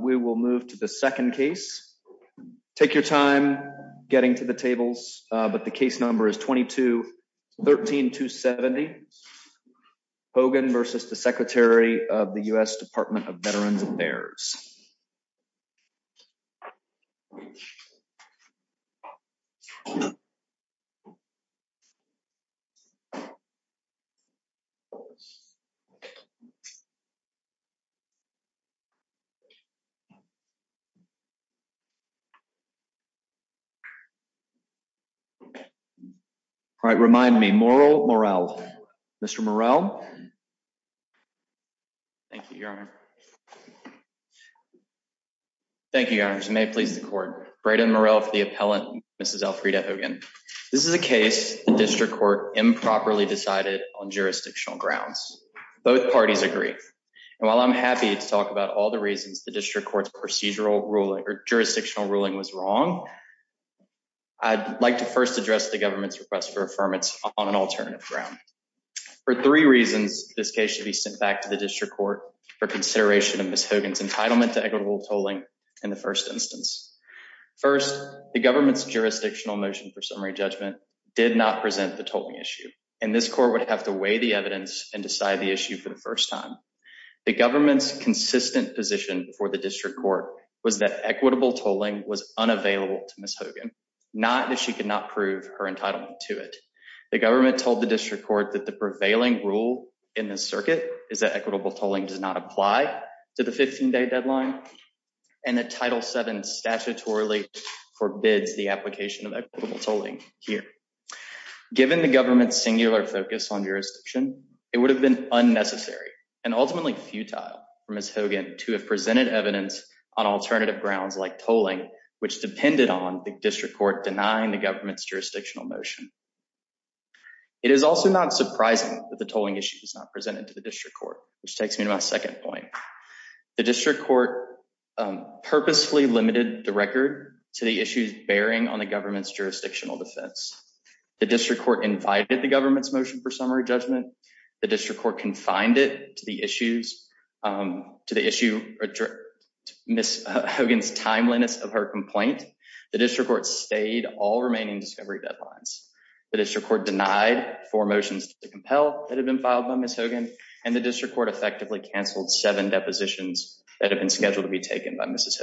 We will move to the second case. Take your time getting to the tables, but the case number is 22 13 to 70 Hogan versus the Secretary of the U.S. Department of Veterans Affairs. All right, remind me moral morale. Mr. Morrell. Thank you. Thank you. May please the court, Braden morale for the appellant, Mrs. Alfreda Hogan. This is a case, the district court improperly decided on jurisdictional grounds. Both parties agree. And while I'm happy to talk about all the reasons the district court's procedural ruling or jurisdictional ruling was wrong. I'd like to first address the government's request for affirmance on an alternative ground for three reasons. This case should be sent back to the district court for consideration of this Hogan's entitlement to equitable tolling. In the first instance, first, the government's jurisdictional motion for summary judgment did not present the total issue. And this court would have to weigh the evidence and decide the issue for the first time. The government's consistent position for the district court was that equitable tolling was unavailable to miss Hogan, not that she could not prove her entitlement to it. The government told the district court that the prevailing rule in the circuit is that equitable tolling does not apply to the 15 day deadline. And the title seven statutorily forbids the application of equitable tolling here. Given the government's singular focus on jurisdiction, it would have been unnecessary and ultimately futile for Miss Hogan to have presented evidence on alternative grounds like tolling, which depended on the district court denying the government's jurisdictional motion. It is also not surprising that the tolling issue was not presented to the district court, which takes me to my second point. The district court purposefully limited the record to the issues bearing on the government's jurisdictional defense. The district court invited the government's motion for summary judgment. The district court confined it to the issues to the issue. Miss Hogan's timeliness of her complaint, the district court stayed all remaining discovery deadlines. The district court denied four motions to compel that have been filed by Miss Hogan and the district court effectively canceled seven depositions that have been scheduled to be taken by Mrs.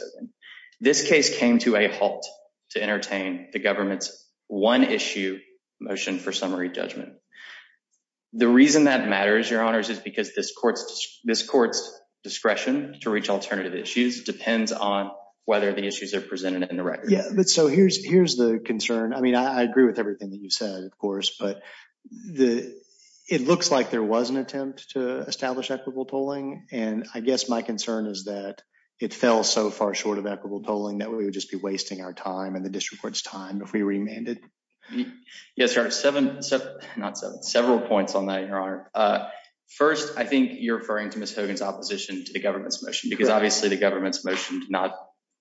This case came to a halt to entertain the government's one issue motion for summary judgment. The reason that matters, Your Honors, is because this court's discretion to reach alternative issues depends on whether the issues are presented in the record. Yeah, but so here's the concern. I mean, I agree with everything that you said, of course, but it looks like there was an attempt to establish equitable tolling. And I guess my concern is that it fell so far short of equitable tolling that we would just be wasting our time and the district court's time if we remanded. Yes, sir. Seven, not several points on that, Your Honor. First, I think you're referring to Miss Hogan's opposition to the government's motion, because obviously the government's motion did not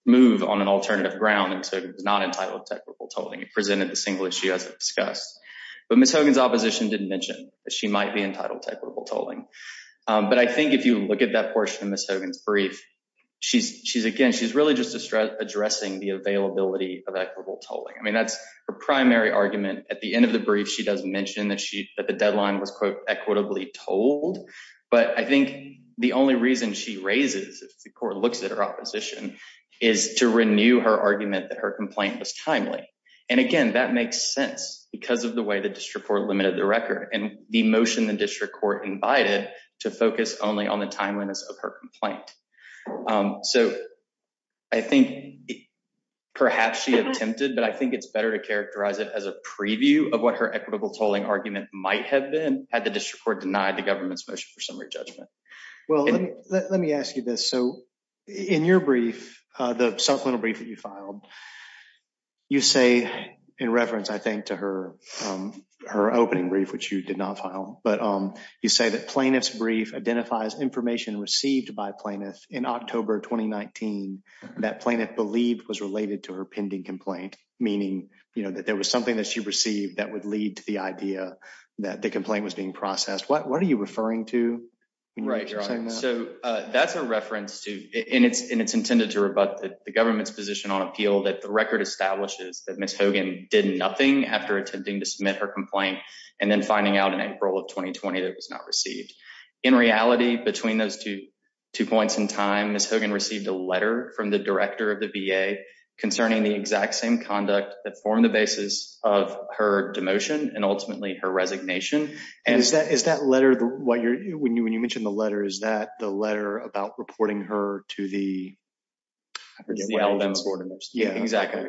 move on an alternative ground. And so it was not entitled to equitable tolling. It presented the single issue as discussed. But Miss Hogan's opposition didn't mention that she might be entitled to equitable tolling. But I think if you look at that portion of Miss Hogan's brief, she's she's again, she's really just addressing the availability of equitable tolling. I mean, that's her primary argument. At the end of the brief, she does mention that she that the deadline was, quote, equitably told. But I think the only reason she raises the court looks at her opposition is to renew her argument that her complaint was timely. And again, that makes sense because of the way the district court limited the record and the motion the district court invited to focus only on the timeliness of her complaint. So I think perhaps she attempted, but I think it's better to characterize it as a preview of what her equitable tolling argument might have been had the district court denied the government's motion for summary judgment. Well, let me ask you this. So in your brief, the supplemental brief that you filed. You say in reference, I think, to her, her opening brief, which you did not file. But you say that plaintiff's brief identifies information received by plaintiff in October 2019 that plaintiff believed was related to her pending complaint. Meaning that there was something that she received that would lead to the idea that the complaint was being processed. What are you referring to? Right. So that's a reference to it. And it's intended to rebut the government's position on appeal that the record establishes that Miss Hogan did nothing after attempting to submit her complaint and then finding out in April of 2020 that was not received. In reality, between those two two points in time, Miss Hogan received a letter from the director of the VA concerning the exact same conduct that formed the basis of her demotion and ultimately her resignation. And is that is that letter what you're when you when you mentioned the letter, is that the letter about reporting her to the. Well, that's what it is. Yeah, exactly.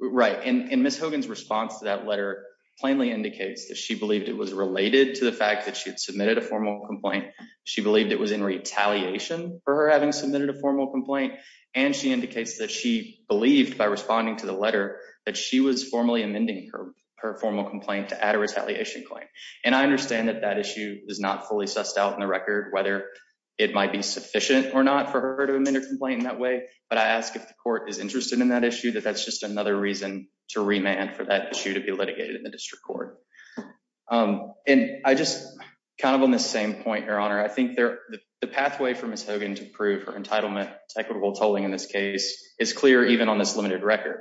Right. And Miss Hogan's response to that letter plainly indicates that she believed it was related to the fact that she had submitted a formal complaint. She believed it was in retaliation for her having submitted a formal complaint. And she indicates that she believed by responding to the letter that she was formally amending her her formal complaint to add a retaliation claim. And I understand that that issue is not fully sussed out in the record, whether it might be sufficient or not for her to amend a complaint in that way. But I ask if the court is interested in that issue, that that's just another reason to remand for that issue to be litigated in the district court. And I just kind of on the same point, Your Honor, I think the pathway for Miss Hogan to prove her entitlement to equitable tolling in this case is clear, even on this limited record.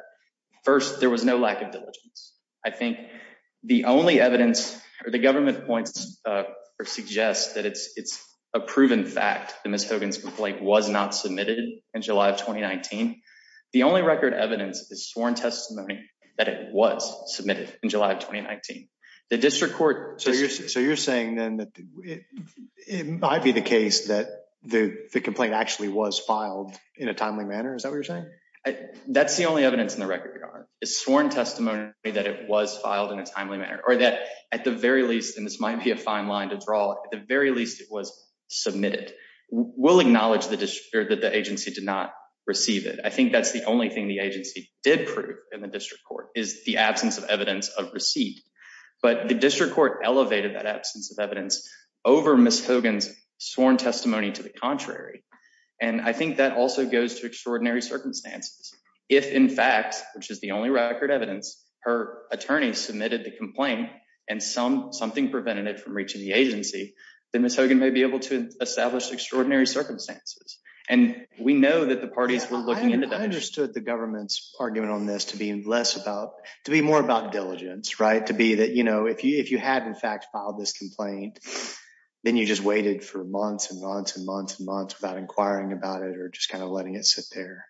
First, there was no lack of diligence. I think the only evidence or the government points or suggests that it's it's a proven fact that Miss Hogan's complaint was not submitted in July of 2019. The only record evidence is sworn testimony that it was submitted in July of 2019. The district court. So you're so you're saying then that it might be the case that the complaint actually was filed in a timely manner. Is that what you're saying? That's the only evidence in the record is sworn testimony that it was filed in a timely manner or that at the very least. And this might be a fine line to draw. At the very least, it was submitted. We'll acknowledge that the agency did not receive it. I think that's the only thing the agency did prove in the district court is the absence of evidence of receipt. But the district court elevated that absence of evidence over Miss Hogan's sworn testimony to the contrary. And I think that also goes to extraordinary circumstances. If, in fact, which is the only record evidence, her attorney submitted the complaint and some something prevented it from reaching the agency, then Miss Hogan may be able to establish extraordinary circumstances. And we know that the parties were looking into that. I understood the government's argument on this to be less about to be more about diligence. Right. To be that, you know, if you if you had, in fact, filed this complaint, then you just waited for months and months and months and months without inquiring about it or just kind of letting it sit there.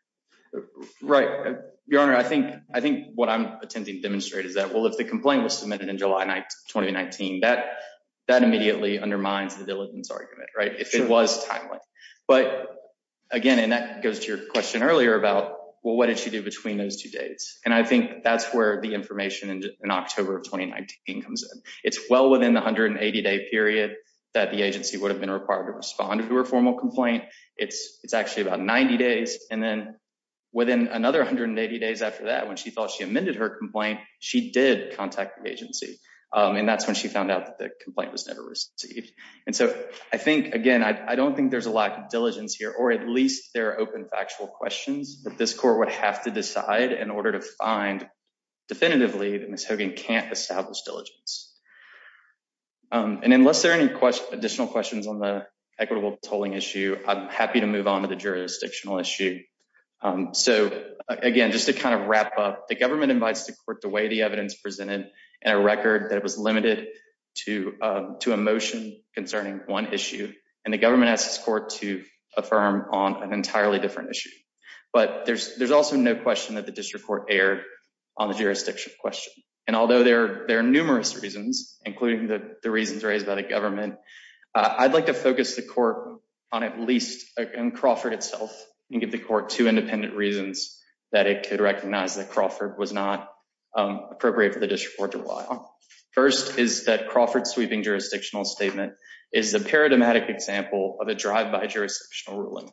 Right. Your Honor, I think I think what I'm attempting to demonstrate is that, well, if the complaint was submitted in July 2019, that that immediately undermines the diligence argument. Right. If it was timely. But again, and that goes to your question earlier about, well, what did she do between those two dates? And I think that's where the information in October of 2019 comes in. It's well within the hundred and eighty day period that the agency would have been required to respond to a formal complaint. It's it's actually about 90 days. And then within another hundred and eighty days after that, when she thought she amended her complaint, she did contact the agency. And that's when she found out that the complaint was never received. And so I think, again, I don't think there's a lack of diligence here, or at least there are open factual questions that this court would have to decide in order to find definitively that Miss Hogan can't establish diligence. And unless there are any additional questions on the equitable tolling issue, I'm happy to move on to the jurisdictional issue. So, again, just to kind of wrap up, the government invites to court the way the evidence presented in a record that it was limited to to a motion concerning one issue. And the government asked this court to affirm on an entirely different issue. But there's there's also no question that the district court erred on the jurisdiction question. And although there are numerous reasons, including the reasons raised by the government, I'd like to focus the court on at least Crawford itself and give the court two independent reasons that it could recognize that Crawford was not appropriate for the district court to lie on. First is that Crawford sweeping jurisdictional statement is a paradigmatic example of a drive by jurisdictional ruling.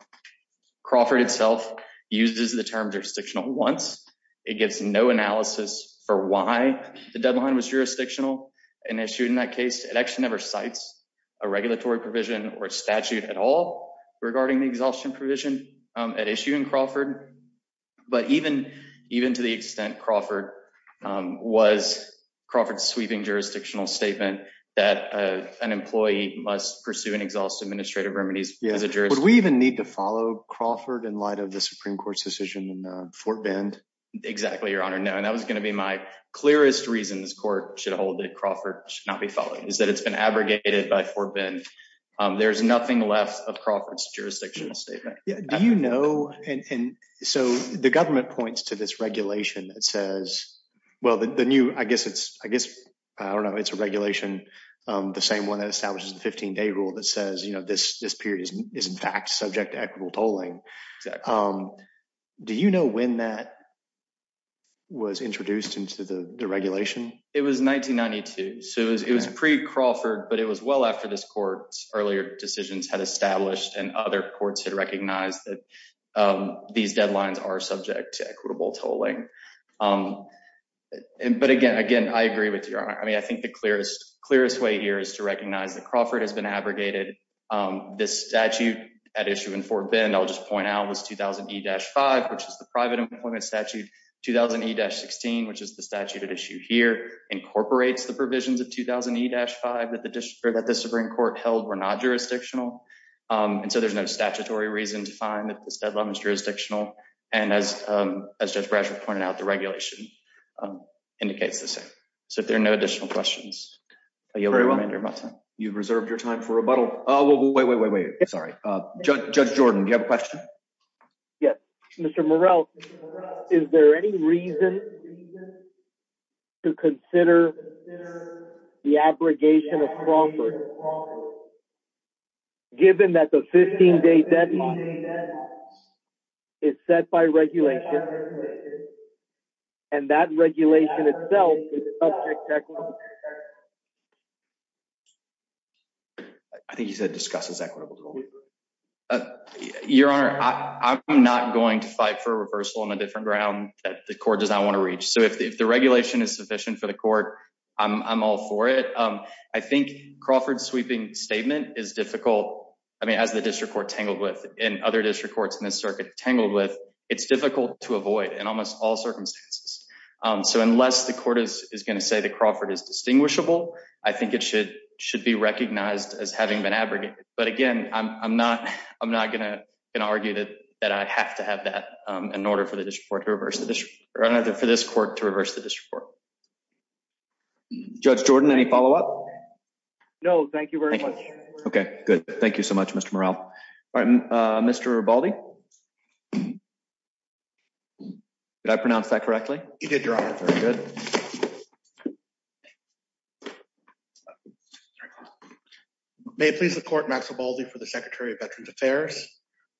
Crawford itself uses the term jurisdictional once it gives no analysis for why the deadline was jurisdictional and issued in that case, it actually never cites a regulatory provision or statute at all regarding the exhaustion provision at issue in Crawford. But even even to the extent Crawford was Crawford sweeping jurisdictional statement that an employee must pursue an exhaustive administrative remedies as a jurist. We even need to follow Crawford in light of the Supreme Court's decision in Fort Bend. Exactly, Your Honor. No, and that was going to be my clearest reasons court should hold that Crawford should not be following is that it's been abrogated by Fort Bend. There's nothing left of Crawford's jurisdictional statement, you know, and so the government points to this regulation that says, well the new I guess it's, I guess, I don't know it's a regulation. The same one that establishes the 15 day rule that says you know this this period is in fact subject to equitable tolling. Do you know when that was introduced into the regulation, it was 1992 so it was it was pre Crawford but it was well after this court's earlier decisions had established and other courts had recognized that these deadlines are subject to equitable tolling. But again, again, I agree with you. I mean, I think the clearest clearest way here is to recognize that Crawford has been abrogated this statute at issue in Fort Bend I'll just point out was 2000 he dash five, which is the private employment statute 2000 he dash 16, which is the statute at issue here incorporates the provisions of 2000 he dash five that the district that the Supreme Court held were not jurisdictional. And so there's no statutory reason to find that this deadline is jurisdictional. And as, as Judge Bradford pointed out the regulation indicates the same. So if there are no additional questions. You've reserved your time for rebuttal. Oh, wait, wait, wait, wait, sorry. Judge Jordan, you have a question. Yes, Mr Morrell. Is there any reason to consider the abrogation of Crawford. Given that the 15 day deadline is set by regulation. And that regulation itself. I think he said discusses equitable. Your Honor, I'm not going to fight for reversal on a different ground that the court does I want to reach so if the regulation is sufficient for the court. I'm all for it. I think Crawford sweeping statement is difficult. I mean as the district court tangled with in other district courts in this circuit tangled with, it's difficult to avoid and almost all circumstances. So unless the court is going to say the Crawford is distinguishable. I think it should should be recognized as having been abrogated, but again, I'm not, I'm not going to argue that that I have to have that in order for the district court to reverse the district, or another for this court to reverse the district court. Judge Jordan any follow up. No, thank you. Okay, good. Thank you so much, Mr Morrell. Mr Baldy. Did I pronounce that correctly, you did your honor. May it please the court maximum for the Secretary of Veterans Affairs.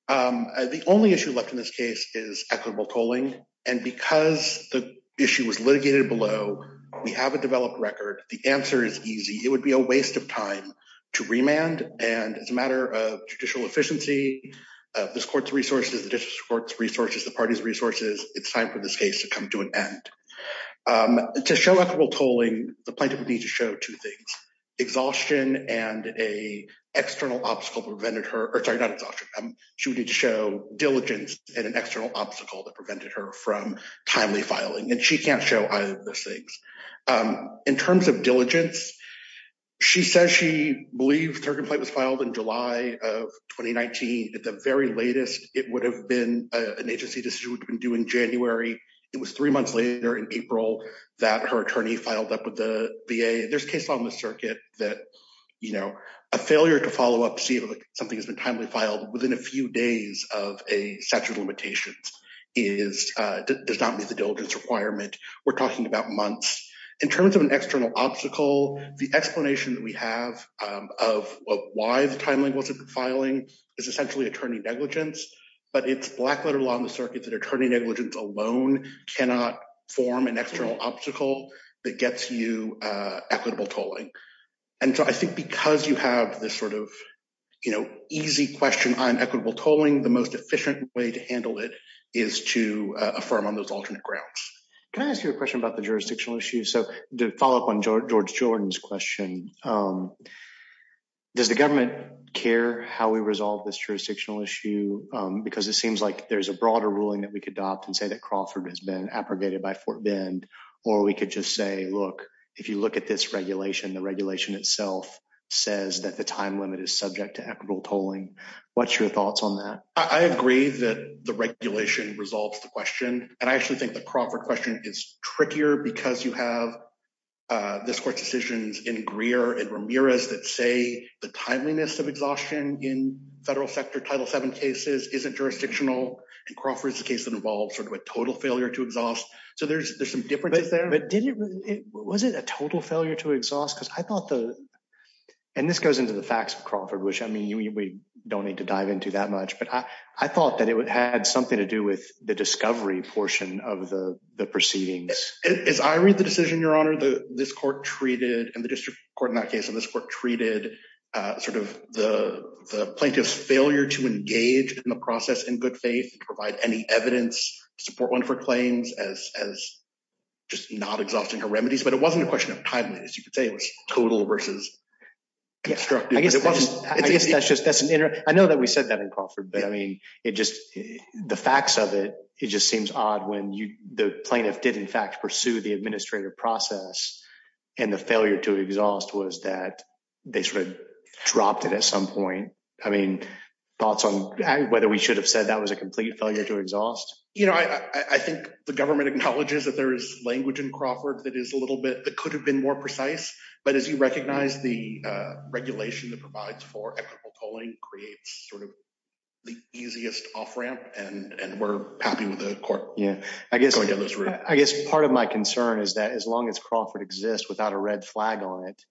The only issue left in this case is equitable tolling, and because the issue was litigated below. We have a developed record, the answer is easy, it would be a waste of time to remand, and it's a matter of judicial efficiency. This court's resources the discourse resources the party's resources, it's time for this case to come to an end. To show equitable tolling the plaintiff would need to show two things exhaustion and a external obstacle prevented her or sorry not exhaustion. She would need to show diligence and an external obstacle that prevented her from timely filing and she can't show either of those things. In terms of diligence. She says she believes her complaint was filed in July of 2019 at the very latest, it would have been an agency decision would have been doing January, it was three months later in April, that her attorney filed up with the VA there's case on the circuit that, you know, a failure to follow up see if something has been timely filed within a few days of a statute of limitations is does not meet the diligence requirement. We're talking about months in terms of an external obstacle, the explanation that we have of why the timeline wasn't filing is essentially attorney negligence, but it's black letter law on the circuit that attorney negligence alone, cannot form an external obstacle that gets you equitable tolling. And so I think because you have this sort of, you know, easy question on equitable tolling the most efficient way to handle it is to affirm on those alternate grounds. Can I ask you a question about the jurisdictional issue so to follow up on George Jordan's question. Does the government care how we resolve this jurisdictional issue, because it seems like there's a broader ruling that we could adopt and say that Crawford has been abrogated by Fort Bend, or we could just say look, if you look at this regulation the regulation itself says that the time limit is subject to equitable tolling. What's your thoughts on that, I agree that the regulation resolves the question, and I actually think the Crawford question is trickier because you have this court decisions in Greer and Ramirez that say the timeliness of exhaustion in federal sector title seven cases isn't jurisdictional and Crawford is the case that involves sort of a total failure to exhaust. So there's, there's some differences there but didn't it wasn't a total failure to exhaust because I thought the. And this goes into the facts of Crawford which I mean we don't need to dive into that much but I thought that it would had something to do with the discovery portion of the proceedings, as I read the decision Your Honor the this court treated and the district court in that case in this court treated sort of the plaintiff's failure to engage in the process in good faith, provide any evidence support one for claims as, as just not exhausting her remedies but it wasn't a question of timeliness you could say it was total versus. I guess that's just that's an inter I know that we said that in Crawford but I mean, it just the facts of it, it just seems odd when you, the plaintiff did in fact pursue the administrative process, and the failure to exhaust was that they sort of dropped it at some point. I mean, thoughts on whether we should have said that was a complete failure to exhaust, you know, I think the government acknowledges that there is language and Crawford that is a little bit that could have been more precise, but as you recognize the regulation that provides for equitable calling creates sort of the easiest off ramp, and we're happy with the court. Yeah, I guess I guess part of my concern is that as long as Crawford exists without a red flag on it.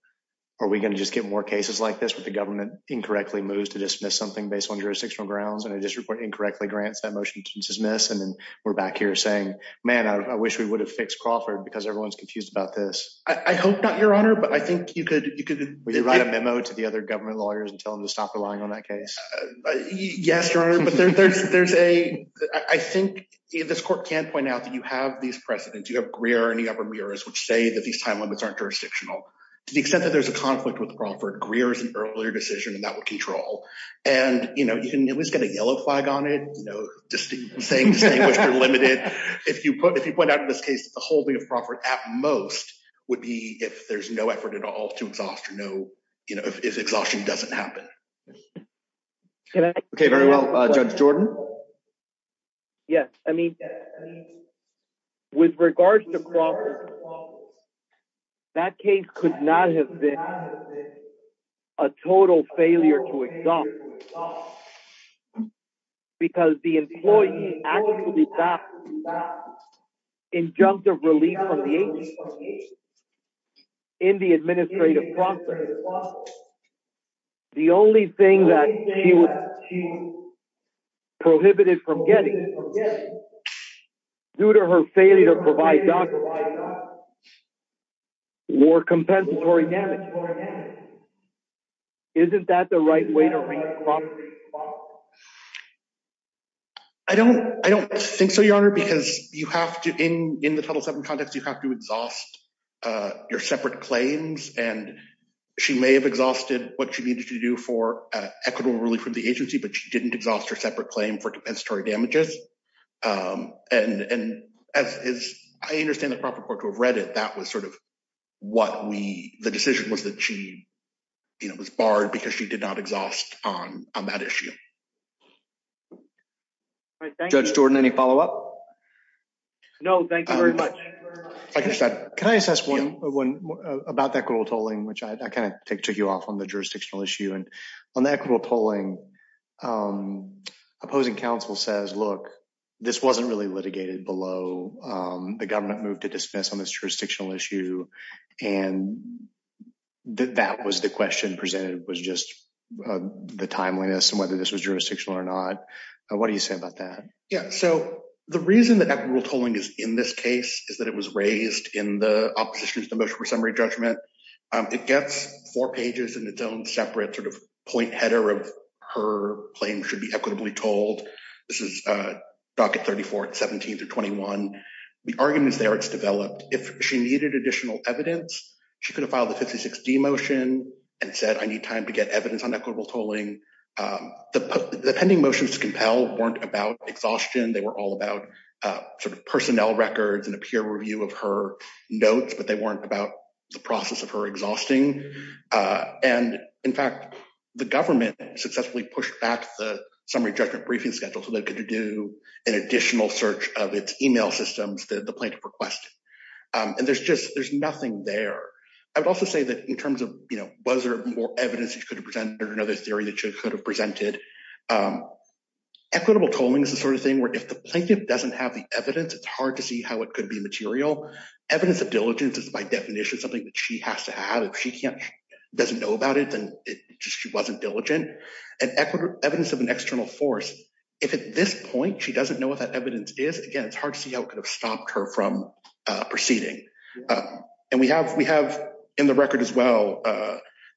Are we going to just get more cases like this with the government incorrectly moves to dismiss something based on jurisdictional grounds and I just report incorrectly grants that motion to dismiss and then we're back here saying, man, I wish we would have fixed Crawford because everyone's confused about this, I hope not your honor but I think you could you could write a memo to the other government lawyers and tell them to stop relying on that case. Yes, but there's there's a, I think this court can point out that you have these precedents you have Greer and the upper mirrors which say that these time limits aren't jurisdictional, to the extent that there's a conflict with Crawford Greer is an earlier decision that would control. And, you know, you can always get a yellow flag on it, you know, just saying you're limited. If you put if you put out in this case, the whole thing of Crawford, at most, would be if there's no effort at all to exhaust or no, you know, if exhaustion doesn't happen. Okay, very well. Judge Jordan. Yes, I mean, with regards to. That case could not have been a total failure to exhaust. Because the employee actually got injunctive release from the agency. In the administrative process. The only thing that he was prohibited from getting due to her failure to provide more compensatory damage. Isn't that the right way to I don't think so your honor because you have to in in the total seven context you have to exhaust your separate claims, and she may have exhausted what she needed to do for equitable relief from the agency but she didn't exhaust her separate claim for compensatory damages. And, and, as I understand the proper court to have read it that was sort of what we, the decision was that she was barred because she did not exhaust on on that issue. I think that's Jordan any follow up. No, thank you very much. Can I just ask one about that girl tolling which I kind of take took you off on the jurisdictional issue and on the equitable tolling opposing counsel says look, this wasn't really litigated below the government move to dismiss on this jurisdictional issue. And that was the question presented was just the timeliness and whether this was jurisdictional or not. What do you say about that. Yeah, so the reason that rule tolling is in this case is that it was raised in the opposition to the motion for summary The arguments there it's developed, if she needed additional evidence, she could have filed a 5060 motion and said I need time to get evidence on equitable tolling the pending motions to compel weren't about exhaustion they were all about sort of personnel records and appear review of her notes but they weren't about the process of her exhausting. And, in fact, the government successfully pushed back the summary judgment briefing schedule so they could do an additional search of its email systems that the plaintiff request. And there's just there's nothing there. I would also say that in terms of, you know, was there more evidence you could have presented another theory that you could have presented equitable tolling is the sort of thing where if the plaintiff doesn't have the evidence it's hard to see how it could be material evidence of diligence is by definition something that she has to have if she can't doesn't know about it and she wasn't diligent and equitable evidence of an external force. If at this point she doesn't know what that evidence is again it's hard to see how it could have stopped her from proceeding. And we have we have in the record as well.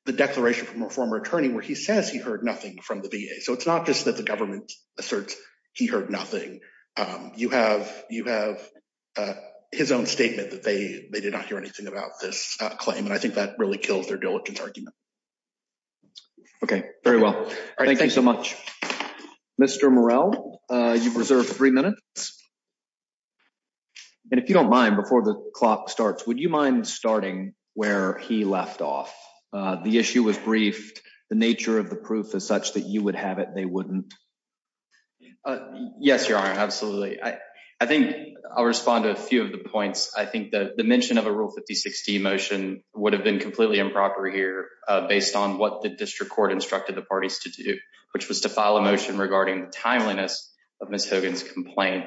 The declaration from a former attorney where he says he heard nothing from the VA so it's not just that the government asserts he heard nothing. You have you have his own statement that they, they did not hear anything about this claim and I think that really kills their diligence argument. Okay, very well. Thank you so much. Mr Morrell, you've reserved three minutes. And if you don't mind before the clock starts, would you mind starting where he left off. The issue was briefed, the nature of the proof as such that you would have it they wouldn't. Yes, Your Honor. Absolutely. I think I'll respond to a few of the points, I think that the mention of a rule 5016 motion would have been completely improper here, based on what the district court instructed the parties to do, which was to file a motion regarding timeliness of Miss Hogan's complaint.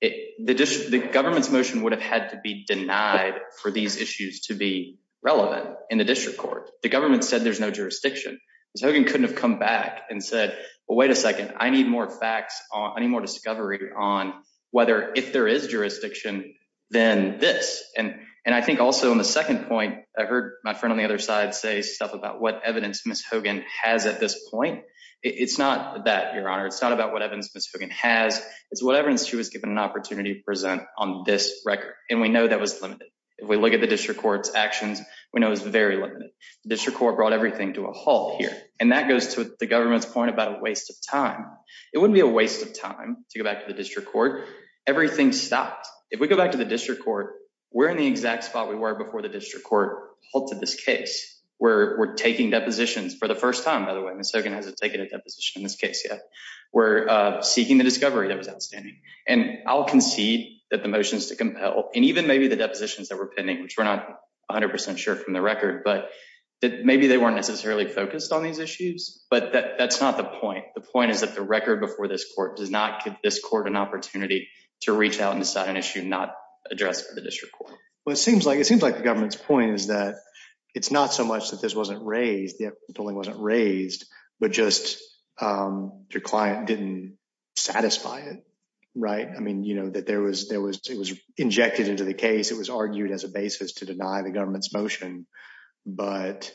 It, the government's motion would have had to be denied for these issues to be relevant in the district court, the government said there's no jurisdiction. So you couldn't have come back and said, Well, wait a second, I need more facts on any more discovery on whether if there is jurisdiction, then this, and, and I think also on the second point, I heard my friend on the other side say stuff about what evidence Miss Hogan has at this point. It's not that Your Honor, it's not about what evidence Miss Hogan has, it's what evidence she was given an opportunity to present on this record, and we know that was limited. If we look at the district courts actions, we know is very limited district court brought everything to a halt here, and that goes to the government's point about a waste of time, it wouldn't be a waste of time to go back to the district court, everything stopped. If we go back to the district court, we're in the exact spot we were before the district court halted this case, we're taking depositions for the first time by the way Miss Hogan hasn't taken a deposition in this case yet. We're seeking the discovery that was outstanding, and I'll concede that the motions to compel and even maybe the depositions that were pending which we're not 100% sure from the record but that maybe they weren't necessarily focused on these issues, but that's not the point. The point is that the record before this court does not give this court an opportunity to reach out and decide an issue not addressed for the district court. Well, it seems like it seems like the government's point is that it's not so much that this wasn't raised, the ruling wasn't raised, but just your client didn't satisfy it. Right. I mean, you know that there was there was it was injected into the case it was argued as a basis to deny the government's motion. But,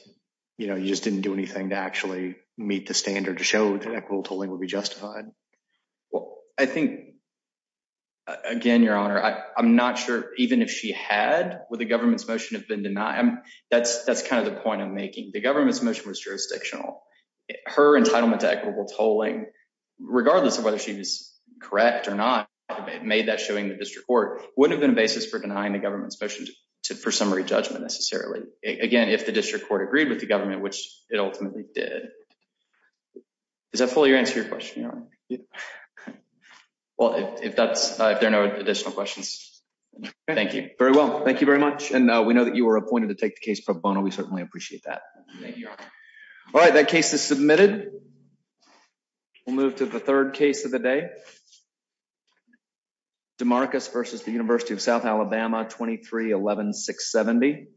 you know, you just didn't do anything to actually meet the standard to show that equitable tolling would be justified. Well, I think, again, Your Honor, I'm not sure, even if she had with the government's motion have been denied. That's, that's kind of the point I'm making the government's motion was jurisdictional her entitlement to equitable tolling, regardless of whether she was correct or not made that showing the district court would have been a basis for denying the government's motion to for summary judgment necessarily again if the district court agreed with the government which it ultimately did. Is that fully answer your question. Well, if that's if there are no additional questions. Thank you very well thank you very much and we know that you were appointed to take the case pro bono we certainly appreciate that. All right, that case is submitted. We'll move to the third case of the day. DeMarcus versus the University of South Alabama 2311 670.